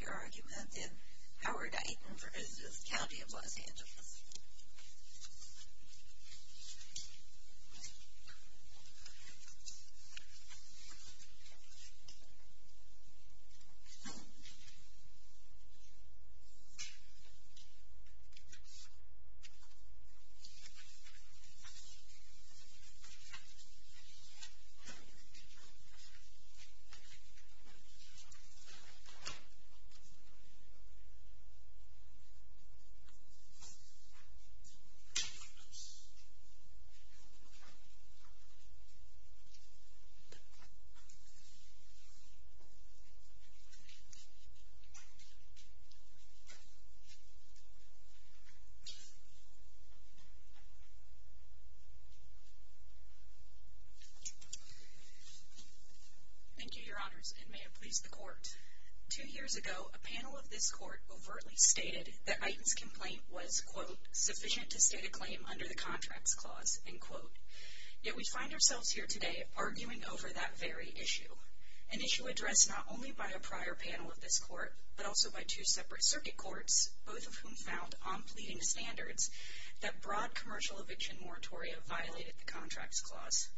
Your argument in Howard Iten v. County of Los Angeles Thank you, your honors, and may it please the court. Two years ago, a panel of this court overtly stated that Iten's complaint was quote, sufficient to state a claim under the Contracts Clause, end quote. Yet we find ourselves here today arguing over that very issue, an issue addressed not only by a prior panel of this court, but also by two separate circuit courts, both of whom found, on pleading standards, that broad commercial eviction moratoria violated the Contracts Clause.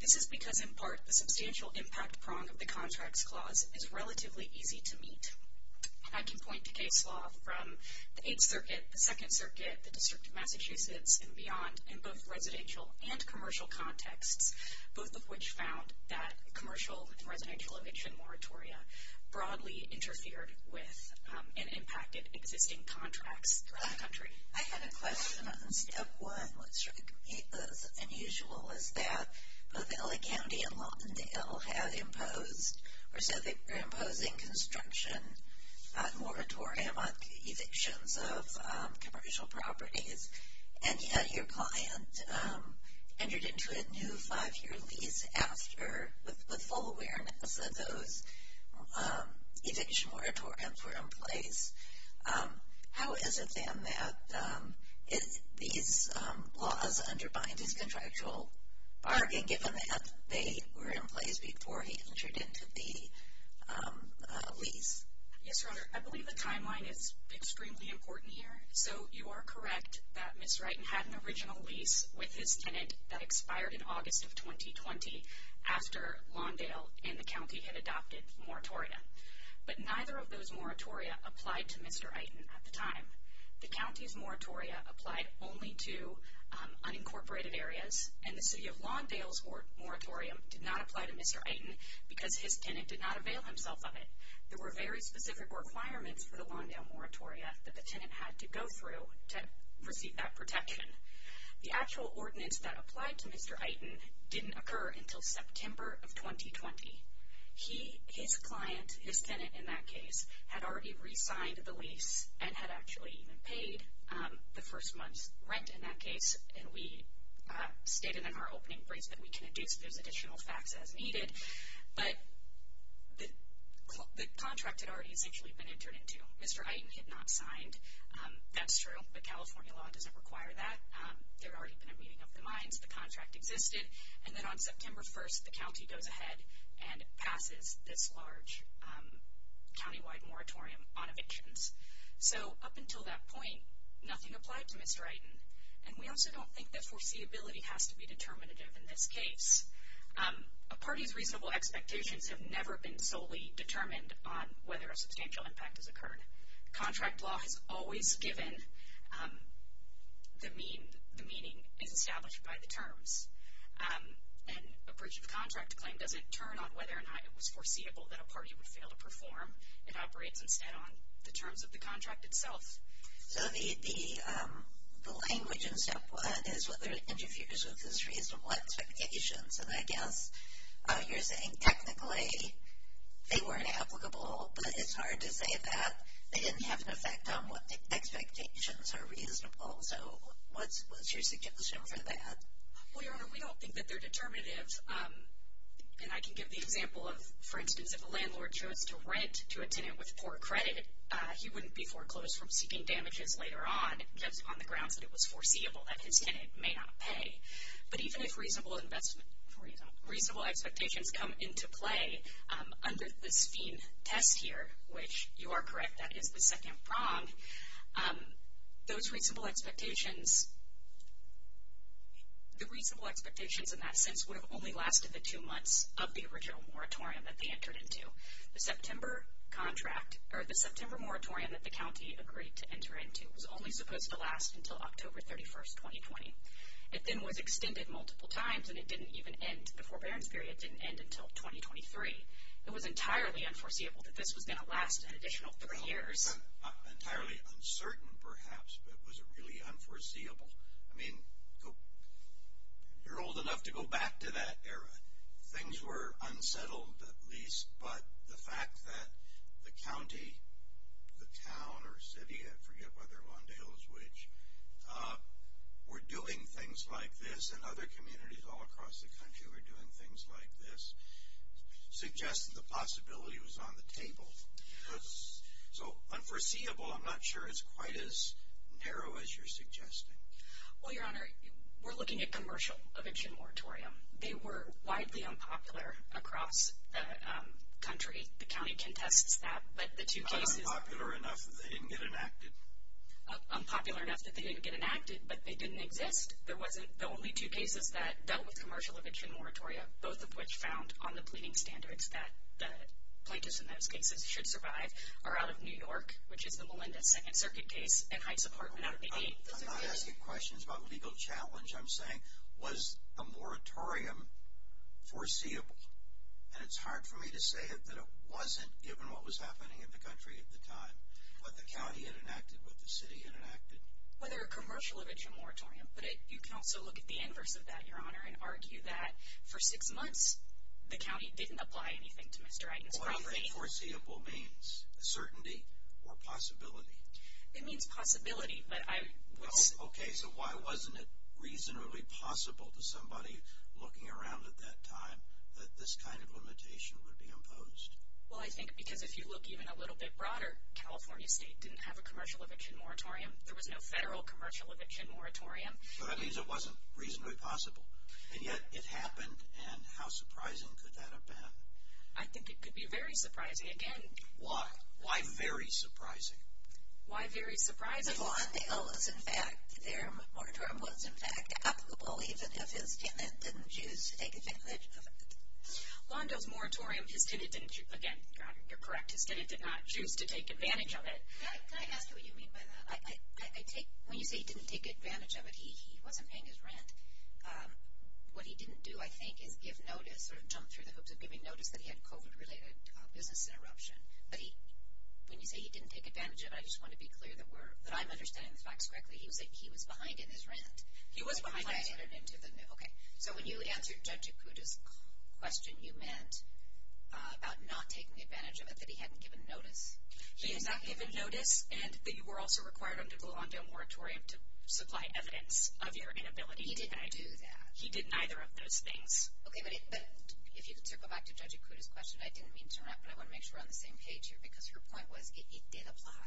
This is because, in part, the substantial impact prong of the Contracts Clause is relatively easy to meet. I can point to case law from the 8th Circuit, the 2nd Circuit, the District of Massachusetts, and beyond in both residential and commercial contexts, both of which found that commercial and residential eviction moratoria broadly interfered with and impacted existing contracts throughout the country. I had a question on step one. What struck me as unusual was that both L.A. County and Lawndale had imposed, or said they were imposing construction on moratorium on evictions of commercial properties, and yet your client entered into a new five-year lease after, with full awareness that those eviction moratoriums were in place. How is it, then, that these laws undermined his contractual bargain, given that they were in place before he entered into the lease? Yes, Your Honor, I believe the timeline is extremely important here. So you are correct that Ms. Wrighton had an original lease with his tenant that expired in August of 2020 after Lawndale and the county had adopted moratoria. But neither of those moratoria applied to Mr. Iton at the time. The county's moratoria applied only to unincorporated areas, and the City of Lawndale's moratorium did not apply to Mr. Iton because his tenant did not avail himself of it. There were very specific requirements for the Lawndale moratoria that the tenant had to go through to receive that protection. The actual ordinance that applied to Mr. Iton didn't occur until September of 2020. His client, his tenant in that case, had already re-signed the lease and had actually even paid the first month's rent in that case, and we stated in our opening briefs that we can induce those additional facts as needed. But the contract had already essentially been entered into. Mr. Iton had not signed. That's true, but California law doesn't require that. There had already been a meeting of the minds. The contract existed. And then on September 1st, the county goes ahead and passes this large countywide moratorium on evictions. So up until that point, nothing applied to Mr. Iton, and we also don't think that foreseeability has to be determinative in this case. A party's reasonable expectations have never been solely determined on whether a substantial impact has occurred. Contract law has always given the meaning is established by the terms. And a breach of contract claim doesn't turn on whether or not it was foreseeable that a party would fail to perform. It operates instead on the terms of the contract itself. So the language in step one is whether it interferes with his reasonable expectations, and I guess you're saying technically they weren't applicable, but it's hard to say that. They didn't have an effect on what the expectations are reasonable. So what's your suggestion for that? Well, Your Honor, we don't think that they're determinative. And I can give the example of, for instance, if a landlord chose to rent to a tenant with poor credit, he wouldn't be foreclosed from seeking damages later on just on the grounds that it was foreseeable that his tenant may not pay. But even if reasonable expectations come into play under this fiend test here, which you are correct, that is the second prong, those reasonable expectations in that sense would have only lasted the two months of the original moratorium that they entered into. The September moratorium that the county agreed to enter into was only supposed to last until October 31, 2020. It then was extended multiple times, and it didn't even end. The forbearance period didn't end until 2023. It was entirely unforeseeable that this was going to last an additional three years. Entirely uncertain, perhaps, but was it really unforeseeable? I mean, you're old enough to go back to that era. Things were unsettled at least, but the fact that the county, the town or city, I forget whether Lawndale is which, were doing things like this and other communities all across the country were doing things like this, suggests that the possibility was on the table. So unforeseeable, I'm not sure it's quite as narrow as you're suggesting. Well, Your Honor, we're looking at commercial eviction moratorium. They were widely unpopular across the country. The county contests that, but the two cases… Unpopular enough that they didn't get enacted? Unpopular enough that they didn't get enacted, but they didn't exist. There wasn't the only two cases that dealt with commercial eviction moratorium, both of which found on the pleading standards that plaintiffs in those cases should survive, are out of New York, which is the Melinda Second Circuit case, and Heights Apartment out of the eight. I'm not asking questions about legal challenge. I'm saying was the moratorium foreseeable? And it's hard for me to say that it wasn't, given what was happening in the country at the time, what the county had enacted, what the city had enacted. Whether a commercial eviction moratorium, but you can also look at the inverse of that, Your Honor, and argue that for six months the county didn't apply anything to Mr. Eitens' property. What do you think foreseeable means? Certainty or possibility? It means possibility, but I would say… Okay, so why wasn't it reasonably possible to somebody looking around at that time that this kind of limitation would be imposed? Well, I think because if you look even a little bit broader, California State didn't have a commercial eviction moratorium. There was no federal commercial eviction moratorium. So that means it wasn't reasonably possible, and yet it happened, and how surprising could that have been? I think it could be very surprising, again. Why? Why very surprising? Why very surprising? Because Lawndale's, in fact, their moratorium was, in fact, applicable, even if his tenant didn't choose to take advantage of it. Lawndale's moratorium, his tenant didn't, again, Your Honor, you're correct, his tenant did not choose to take advantage of it. Can I ask what you mean by that? When you say he didn't take advantage of it, he wasn't paying his rent. What he didn't do, I think, is give notice or jump through the hoops of giving notice that he had COVID-related business interruption. But when you say he didn't take advantage of it, I just want to be clear that I'm understanding the facts correctly. He was behind in his rent. He was behind in his rent. Okay. So when you answered Judge Acuda's question, you meant about not taking advantage of it, that he hadn't given notice. He had not given notice, and that you were also requiring him to go on to a moratorium to supply evidence of your inability to pay. He didn't do that. He did neither of those things. Okay, but if you could circle back to Judge Acuda's question, I didn't mean to interrupt, but I want to make sure we're on the same page here, because her point was it did apply.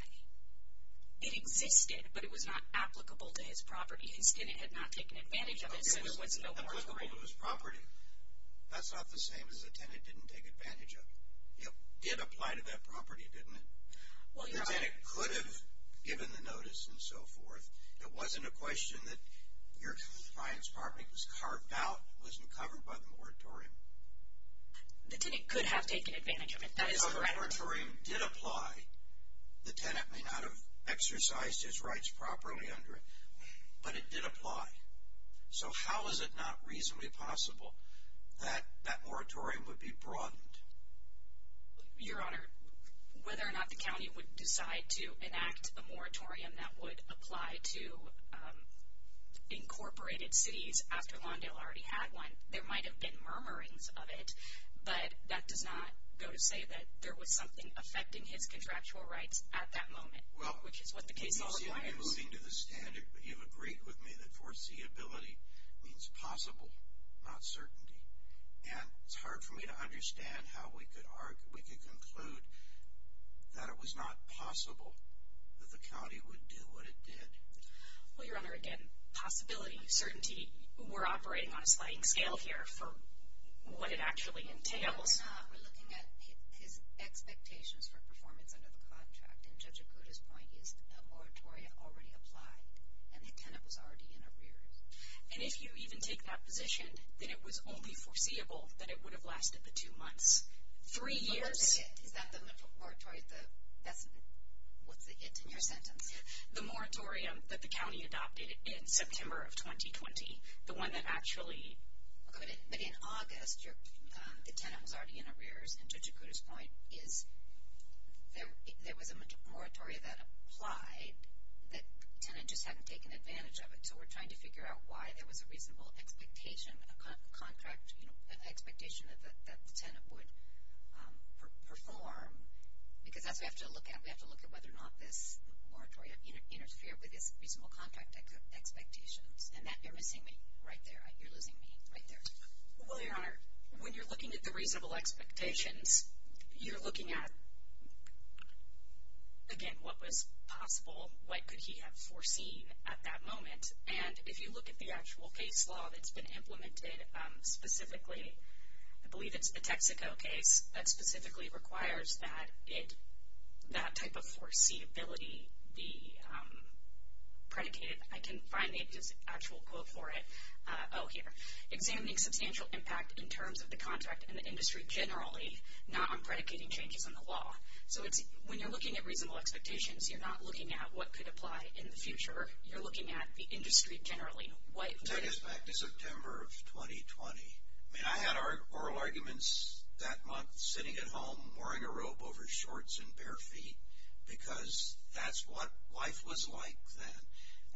It existed, but it was not applicable to his property. His tenant had not taken advantage of it, so there was no moratorium. It was applicable to his property. That's not the same as the tenant didn't take advantage of it. It did apply to that property, didn't it? Your tenant could have given the notice and so forth. It wasn't a question that your client's property was carved out, wasn't covered by the moratorium. The tenant could have taken advantage of it. That is correct. The moratorium did apply. The tenant may not have exercised his rights properly under it, but it did apply. So how is it not reasonably possible that that moratorium would be broadened? Your Honor, whether or not the county would decide to enact a moratorium that would apply to incorporated cities after Lawndale already had one, there might have been murmurings of it, but that does not go to say that there was something affecting his contractual rights at that moment, which is what the case law requires. You're moving to the standard, but you've agreed with me that foreseeability means possible, not certainty. And it's hard for me to understand how we could conclude that it was not possible that the county would do what it did. Well, Your Honor, again, possibility, certainty, we're operating on a sliding scale here for what it actually entails. No, we're not. We're looking at his expectations for performance under the contract, and Judge Okuda's point is a moratorium already applied, and the tenant was already in arrears. And if you even take that position, then it was only foreseeable that it would have lasted the two months. Three years. What's the hit? Is that the moratorium? What's the hit in your sentence? The moratorium that the county adopted in September of 2020, the one that actually... But in August, the tenant was already in arrears, and Judge Okuda's point is there was a moratorium that applied, the tenant just hadn't taken advantage of it. So, we're trying to figure out why there was a reasonable expectation, a contract expectation that the tenant would perform, because that's what we have to look at. We have to look at whether or not this moratorium interfered with his reasonable contract expectations. And that, you're missing me right there. You're losing me right there. Well, Your Honor, when you're looking at the reasonable expectations, you're looking at, again, what was possible, what could he have foreseen at that moment. And if you look at the actual case law that's been implemented specifically, I believe it's the Texaco case that specifically requires that type of foreseeability be predicated. I can find the actual quote for it. Oh, here. Examining substantial impact in terms of the contract and the industry generally, not on predicating changes in the law. So, when you're looking at reasonable expectations, you're not looking at what could apply in the future. You're looking at the industry generally. Take us back to September of 2020. I mean, I had oral arguments that month sitting at home, wearing a robe over shorts and bare feet, because that's what life was like then.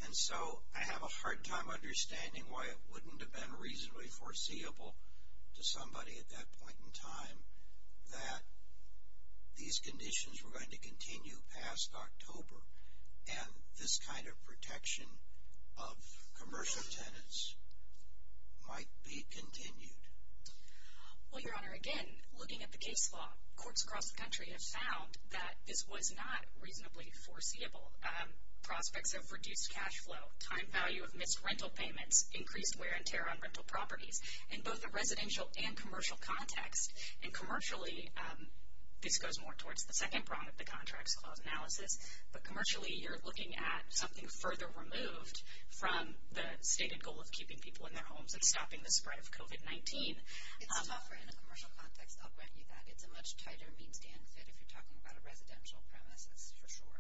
And so, I have a hard time understanding why it wouldn't have been reasonably foreseeable to somebody at that point in time that these conditions were going to continue past October. And this kind of protection of commercial tenants might be continued. Well, Your Honor, again, looking at the case law, courts across the country have found that this was not reasonably foreseeable. Prospects of reduced cash flow, time value of missed rental payments, increased wear and tear on rental properties in both the residential and commercial context. And commercially, this goes more towards the second prong of the Contracts Clause analysis, but commercially, you're looking at something further removed from the stated goal of keeping people in their homes and stopping the spread of COVID-19. It's tougher in a commercial context. I'll grant you that. It's a much tighter means-to-end fit if you're talking about a residential premise, that's for sure.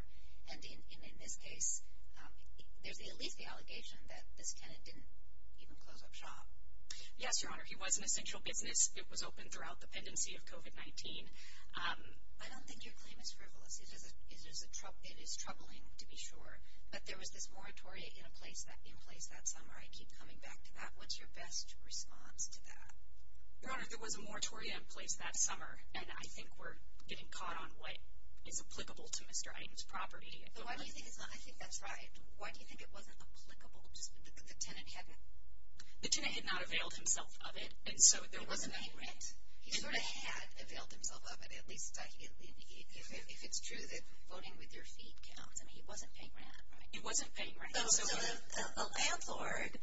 And in this case, there's at least the allegation that this tenant didn't even close up shop. Yes, Your Honor. He was an essential business. It was open throughout the pendency of COVID-19. I don't think your claim is frivolous. It is troubling, to be sure. But there was this moratoria in place that summer. I keep coming back to that. What's your best response to that? Your Honor, there was a moratoria in place that summer, and I think we're getting caught on what is applicable to Mr. Items' property. I think that's right. Why do you think it wasn't applicable? The tenant had not availed himself of it. He wasn't paying rent. He sort of had availed himself of it, at least documentally, if it's true that voting with your feet counts. I mean, he wasn't paying rent, right? He wasn't paying rent. So, the landlord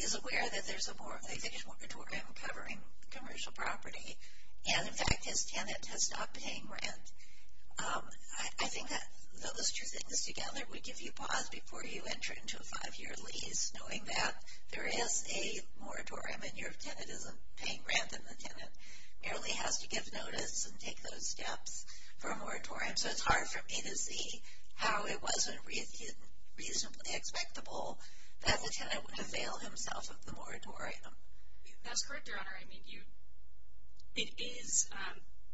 is aware that there's a mortgage moratorium covering commercial property, and, in fact, his tenant has stopped paying rent. I think that those two things together would give you pause before you enter into a five-year lease, knowing that there is a moratorium, and your tenant isn't paying rent, and the tenant merely has to give notice and take those steps for a moratorium. So, it's hard for me to see how it wasn't reasonably expectable that the tenant would avail himself of the moratorium. That's correct, Your Honor. I mean, it is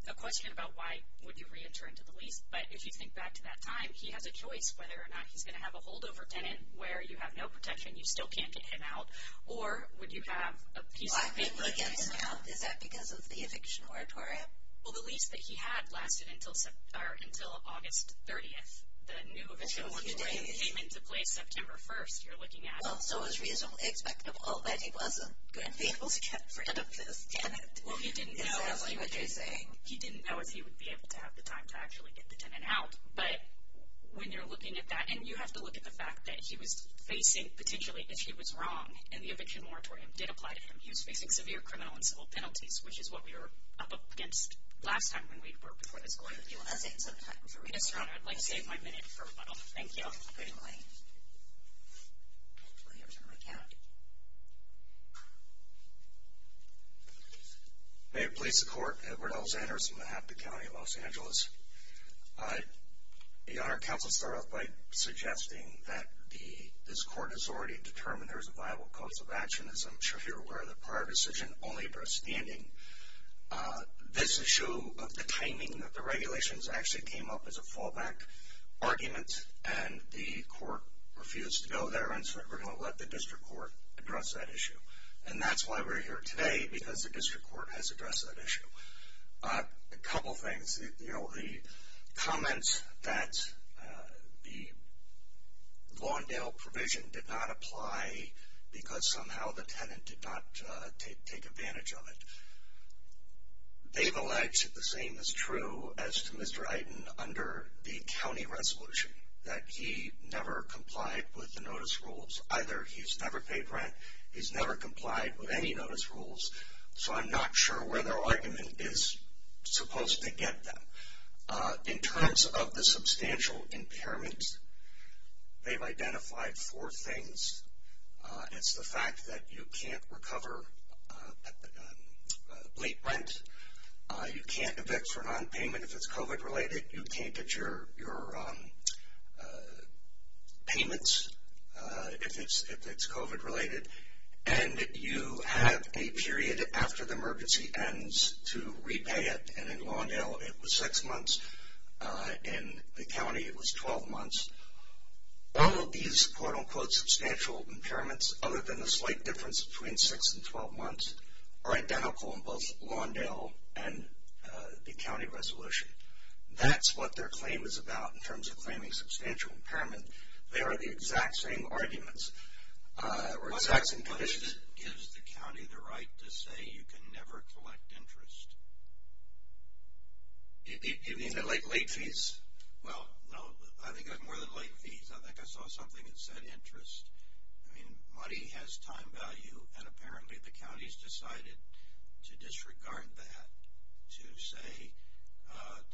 a question about why would you reenter into the lease, but if you think back to that time, he has a choice whether or not he's going to have a holdover tenant where you have no protection, you still can't get him out, or would you have a peace agreement with him? Why would he get him out? Is that because of the eviction moratorium? Well, the lease that he had lasted until August 30th. The new eviction moratorium came into place September 1st, you're looking at. Well, so it was reasonably expectable that he wasn't going to be able to get rid of this tenant. Well, he didn't know. Exactly what you're saying. He didn't know if he would be able to have the time to actually get the tenant out, but when you're looking at that, and you have to look at the fact that he was facing, potentially, if he was wrong, and the eviction moratorium did apply to him, he was facing severe criminal and civil penalties, which is what we were up against last time when we were before this court. Would you like to say something for me? Yes, Your Honor, I'd like to save my minute for a while. Thank you. Good morning. Mayor, Police, the Court, Edward L. Zanders on behalf of the County of Los Angeles. Your Honor, counsel started off by suggesting that this court has already determined there is a viable course of action. As I'm sure you're aware, the prior decision only addressed standing. This issue of the timing of the regulations actually came up as a fallback argument, and the court refused to go there, and so we're going to let the district court address that issue. And that's why we're here today, because the district court has addressed that issue. A couple things. You know, the comments that the Lawndale provision did not apply because somehow the tenant did not take advantage of it, they've alleged the same is true as to Mr. Iden under the county resolution, that he never complied with the notice rules. Either he's never paid rent, he's never complied with any notice rules, so I'm not sure where their argument is supposed to get them. In terms of the substantial impairment, they've identified four things. It's the fact that you can't recover late rent, you can't evict for nonpayment if it's COVID-related, you can't get your payments if it's COVID-related, and you have a period after the emergency ends to repay it, and in Lawndale it was six months, in the county it was 12 months. All of these quote-unquote substantial impairments, other than the slight difference between six and 12 months, are identical in both Lawndale and the county resolution. That's what their claim is about in terms of claiming substantial impairment. They are the exact same arguments, or exact same conditions. Money gives the county the right to say you can never collect interest. You mean the late fees? Well, no, I think it was more than late fees. I think I saw something that said interest. Money has time value, and apparently the county has decided to disregard that, to say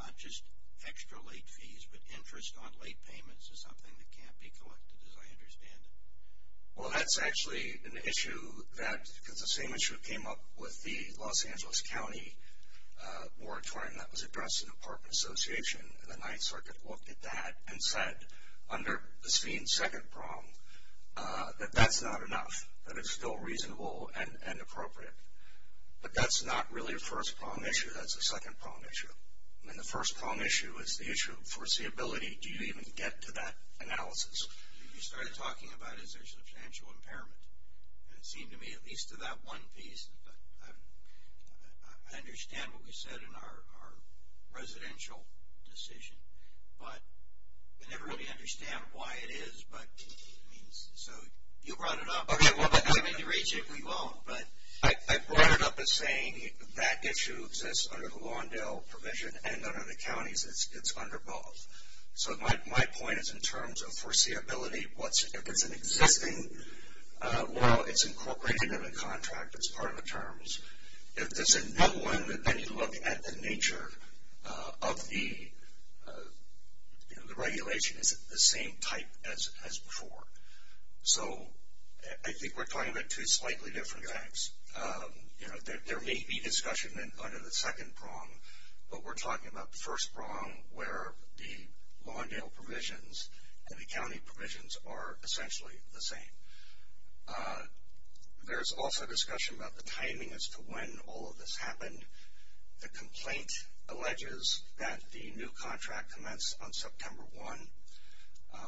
not just extra late fees, but interest on late payments is something that can't be collected, as I understand it. Well, that's actually an issue that, because the same issue came up with the Los Angeles County moratorium that was addressed in the apartment association, and the Ninth Circuit looked at that and said, under the second prong, that that's not enough, that it's still reasonable and appropriate. But that's not really a first prong issue, that's a second prong issue. I mean, the first prong issue is the issue of foreseeability. Do you even get to that analysis? You started talking about is there substantial impairment, and it seemed to me, at least to that one piece, I understand what you said in our residential decision, but I never really understand why it is, but, I mean, so you brought it up. Okay, well, I mean, you raise it, we won't, but I brought it up as saying that issue exists under the Lawndale provision, and under the counties, it's under both. So my point is in terms of foreseeability, if it's an existing law, it's incorporated into the contract as part of the terms. If it's a new one, then you look at the nature of the regulation, is it the same type as before? So I think we're talking about two slightly different things. You know, there may be discussion under the second prong, but we're talking about the first prong where the Lawndale provisions and the county provisions are essentially the same. There's also discussion about the timing as to when all of this happened. The complaint alleges that the new contract commenced on September 1,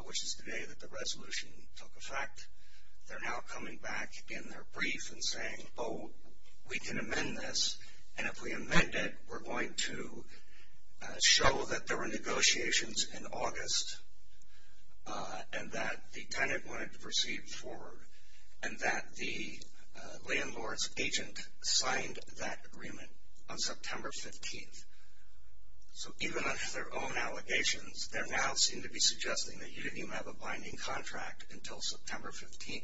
which is the day that the resolution took effect. They're now coming back in their brief and saying, oh, we can amend this, and if we amend it, we're going to show that there were negotiations in August and that the tenant wanted to proceed forward and that the landlord's agent signed that agreement on September 15. So even under their own allegations, they now seem to be suggesting that you didn't even have a binding contract until September 15,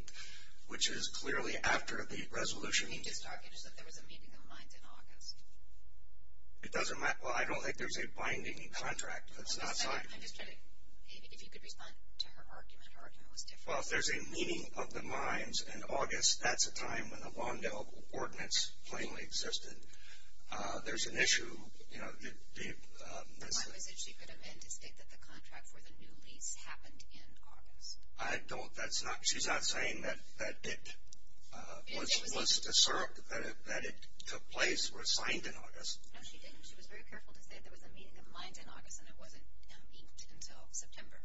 which is clearly after the resolution. You're just talking as if there was a meeting of the minds in August. It doesn't matter. Well, I don't think there's a binding contract. I'm just trying to, if you could respond to her argument, her argument was different. Well, if there's a meeting of the minds in August, that's a time when the Lawndale ordinance plainly existed. There's an issue. The point was that she could amend to state that the contract for the new lease happened in August. She's not saying that it took place or was signed in August. No, she didn't. She was very careful to say there was a meeting of the minds in August and it wasn't amended until September.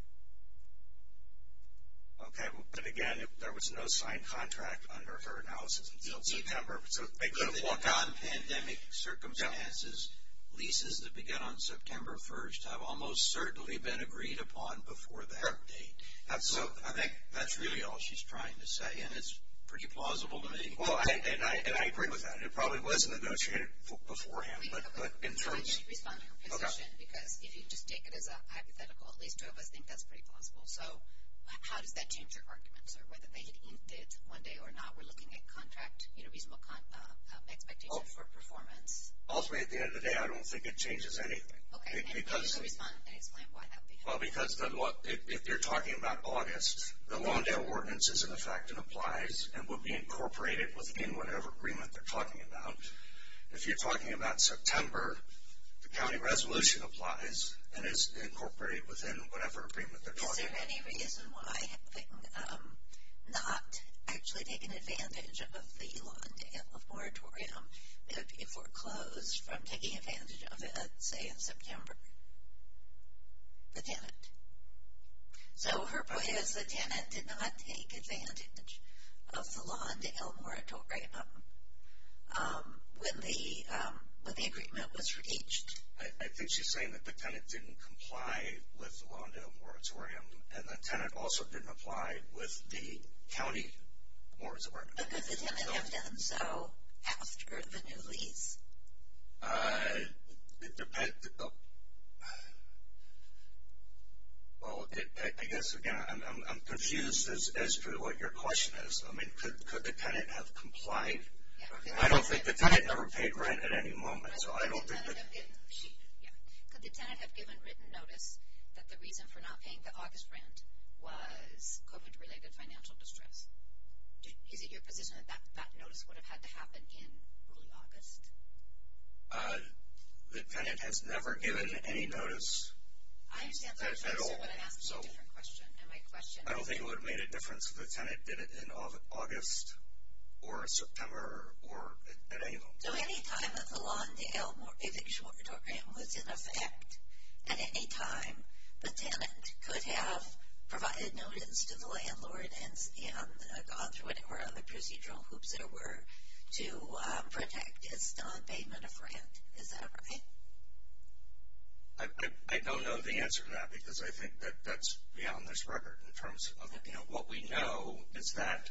Okay. But, again, there was no signed contract under her analysis until September. In non-pandemic circumstances, leases that began on September 1st have almost certainly been agreed upon before that date. So I think that's really all she's trying to say, and it's pretty plausible to me. Well, and I agree with that. It probably was negotiated beforehand, but in terms. I need to respond to her position, because if you just take it as a hypothetical, at least two of us think that's pretty plausible. So how does that change your arguments? One day or not, we're looking at contract, you know, reasonable expectations for performance. Ultimately, at the end of the day, I don't think it changes anything. Okay. I need you to respond and explain why that would be helpful. Well, because if you're talking about August, the loan deal ordinance is in effect and applies and would be incorporated within whatever agreement they're talking about. If you're talking about September, the county resolution applies and is incorporated within whatever agreement they're talking about. Is there any reason why, having not actually taken advantage of the loan deal moratorium, it would be foreclosed from taking advantage of it, say, in September? The tenant. So her point is the tenant did not take advantage of the loan deal moratorium when the agreement was reached. I think she's saying that the tenant didn't comply with the loan deal moratorium and the tenant also didn't apply with the county moratorium. But could the tenant have done so after the new lease? Well, I guess, again, I'm confused as to what your question is. I mean, could the tenant have complied? I don't think the tenant ever paid rent at any moment. Could the tenant have given written notice that the reason for not paying the August rent was COVID-related financial distress? Is it your position that that notice would have had to happen in early August? The tenant has never given any notice at all. I understand. That's why I'm asking a different question. I don't think it would have made a difference if the tenant did it in August or September or at any moment. So any time that the loan deal moratorium was in effect at any time, the tenant could have provided notice to the landlord and gone through it or other procedural hoops there were to protect his nonpayment of rent. Is that right? I don't know the answer to that because I think that that's beyond this record in terms of what we know is that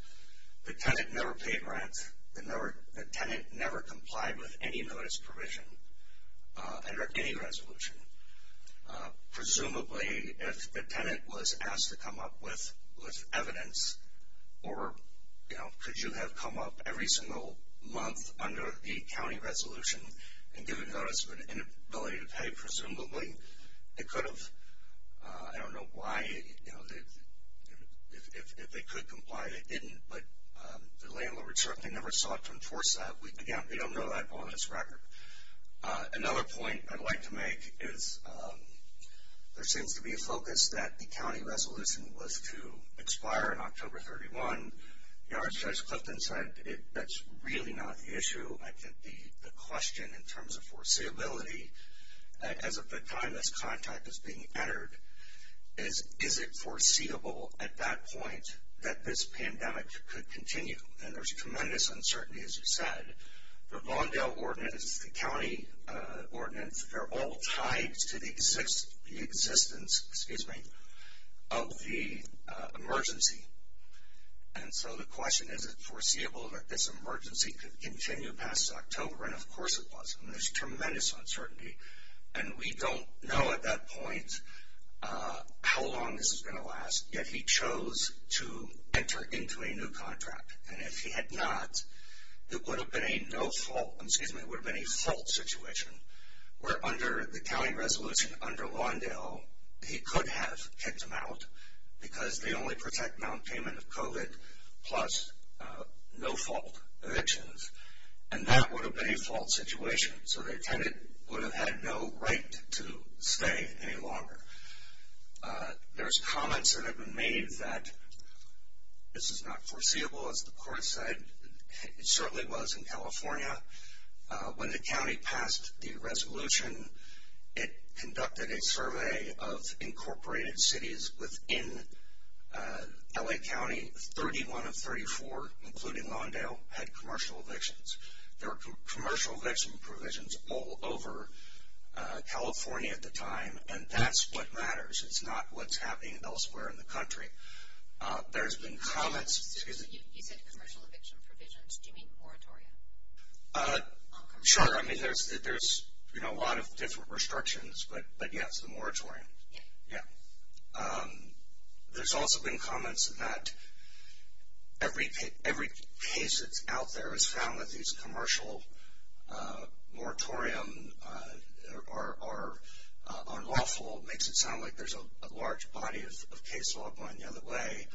the tenant never paid rent. The tenant never complied with any notice provision under any resolution. Presumably, if the tenant was asked to come up with evidence or could you have come up every single month under the county resolution and given notice of an inability to pay, presumably, they could have. I don't know why. If they could comply, they didn't, but the landlord certainly never sought to enforce that. We don't know that on this record. Another point I'd like to make is there seems to be a focus that the county resolution was to expire in October 31. Judge Clifton said that's really not the issue. I think the question in terms of foreseeability as of the time this contact is being entered is is it foreseeable at that point that this pandemic could continue? And there's tremendous uncertainty, as you said. The Lawndale ordinance, the county ordinance, they're all tied to the existence of the emergency. And so the question, is it foreseeable that this emergency could continue past October? And, of course, it was. And there's tremendous uncertainty. And we don't know at that point how long this is going to last. Yet he chose to enter into a new contract. And if he had not, it would have been a fault situation, where under the county resolution under Lawndale, he could have kicked them out because they only protect nonpayment of COVID plus no-fault evictions. And that would have been a fault situation. So the tenant would have had no right to stay any longer. There's comments that have been made that this is not foreseeable, as the court said. It certainly was in California. When the county passed the resolution, it conducted a survey of incorporated cities within L.A. County. 31 of 34, including Lawndale, had commercial evictions. There were commercial eviction provisions all over California at the time. And that's what matters. It's not what's happening elsewhere in the country. There's been comments. You said commercial eviction provisions. Do you mean moratorium? Sure. I mean, there's a lot of different restrictions. But, yes, the moratorium. Yeah. There's also been comments that every case that's out there has found that these commercial moratoriums are unlawful. It makes it sound like there's a large body of case law going the other way.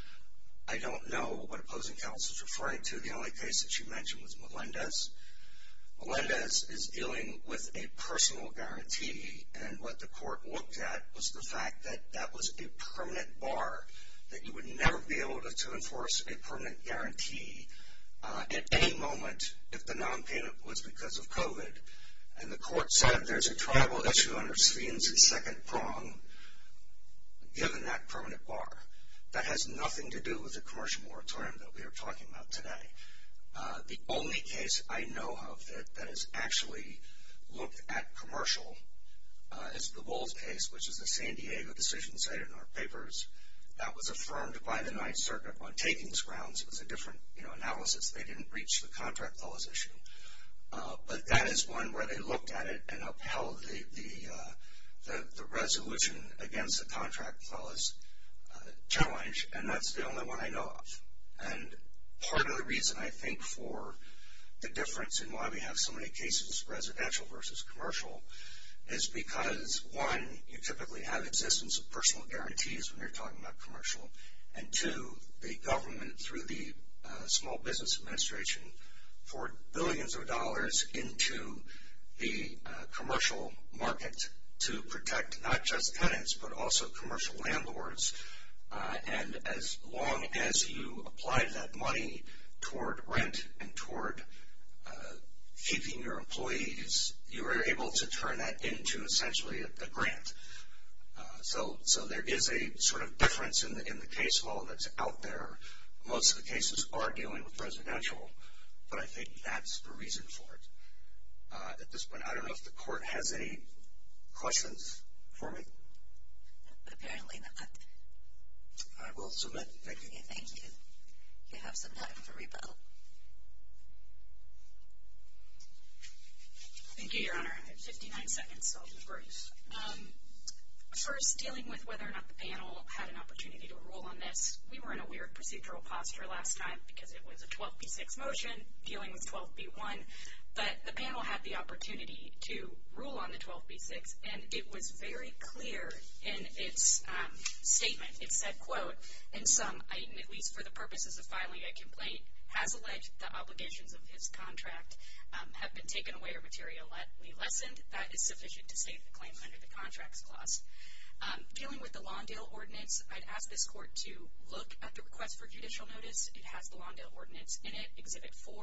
I don't know what opposing counsel is referring to. The only case that you mentioned was Melendez. Melendez is dealing with a personal guarantee. And what the court looked at was the fact that that was a permanent bar, that you would never be able to enforce a permanent guarantee at any moment if the nonpayment was because of COVID. And the court said there's a tribal issue under Stevens and Second Prong, given that permanent bar. That has nothing to do with the commercial moratorium that we are talking about today. The only case I know of that has actually looked at commercial is the Walls case, which is a San Diego decision cited in our papers. That was affirmed by the Ninth Circuit on takings grounds. It was a different analysis. They didn't reach the contract clause issue. But that is one where they looked at it and upheld the resolution against the contract clause challenge, and that's the only one I know of. And part of the reason, I think, for the difference in why we have so many cases, residential versus commercial, is because, one, you typically have existence of personal guarantees when you're talking about commercial. And, two, the government, through the Small Business Administration, poured billions of dollars into the commercial market to protect not just tenants but also commercial landlords. And as long as you applied that money toward rent and toward keeping your employees, you were able to turn that into, essentially, a grant. So there is a sort of difference in the case law that's out there. Most of the cases are dealing with residential, but I think that's the reason for it. At this point, I don't know if the Court has any questions for me. Apparently not. I will submit. Thank you. Thank you. You have some time for rebuttal. Thank you, Your Honor. I have 59 seconds, so I'll be brief. First, dealing with whether or not the panel had an opportunity to rule on this, we were in a weird procedural posture last time because it was a 12B6 motion dealing with 12B1. But the panel had the opportunity to rule on the 12B6, and it was very clear in its statement. It said, quote, in sum, at least for the purposes of filing a complaint, has alleged the obligations of his contract have been taken away or materially lessened. That is sufficient to state the claim under the Contracts Clause. Dealing with the Lawndale Ordinance, I'd ask this Court to look at the request for judicial notice. It has the Lawndale Ordinance in it, Exhibit 4.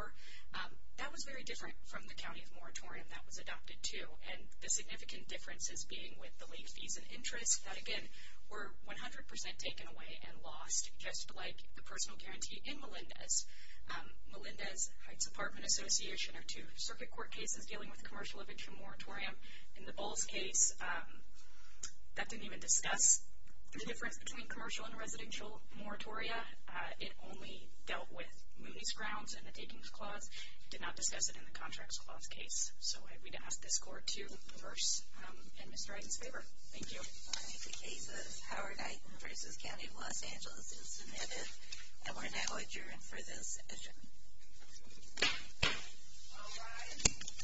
That was very different from the county of moratorium that was adopted, too. And the significant difference is being with the late fees and interest. That, again, were 100% taken away and lost, just like the personal guarantee in Melinda's. Melinda's Heights Apartment Association are two circuit court cases dealing with commercial eviction moratorium. In the Bowles case, that didn't even discuss the difference between commercial and residential moratoria. It only dealt with Mooney's Grounds and the Takings Clause. It did not discuss it in the Contracts Clause case. So I'd be to ask this Court to reverse in Mr. Wright's favor. Thank you. The case of Howard Height v. County of Los Angeles is submitted, and we're now adjourned for this session. All rise.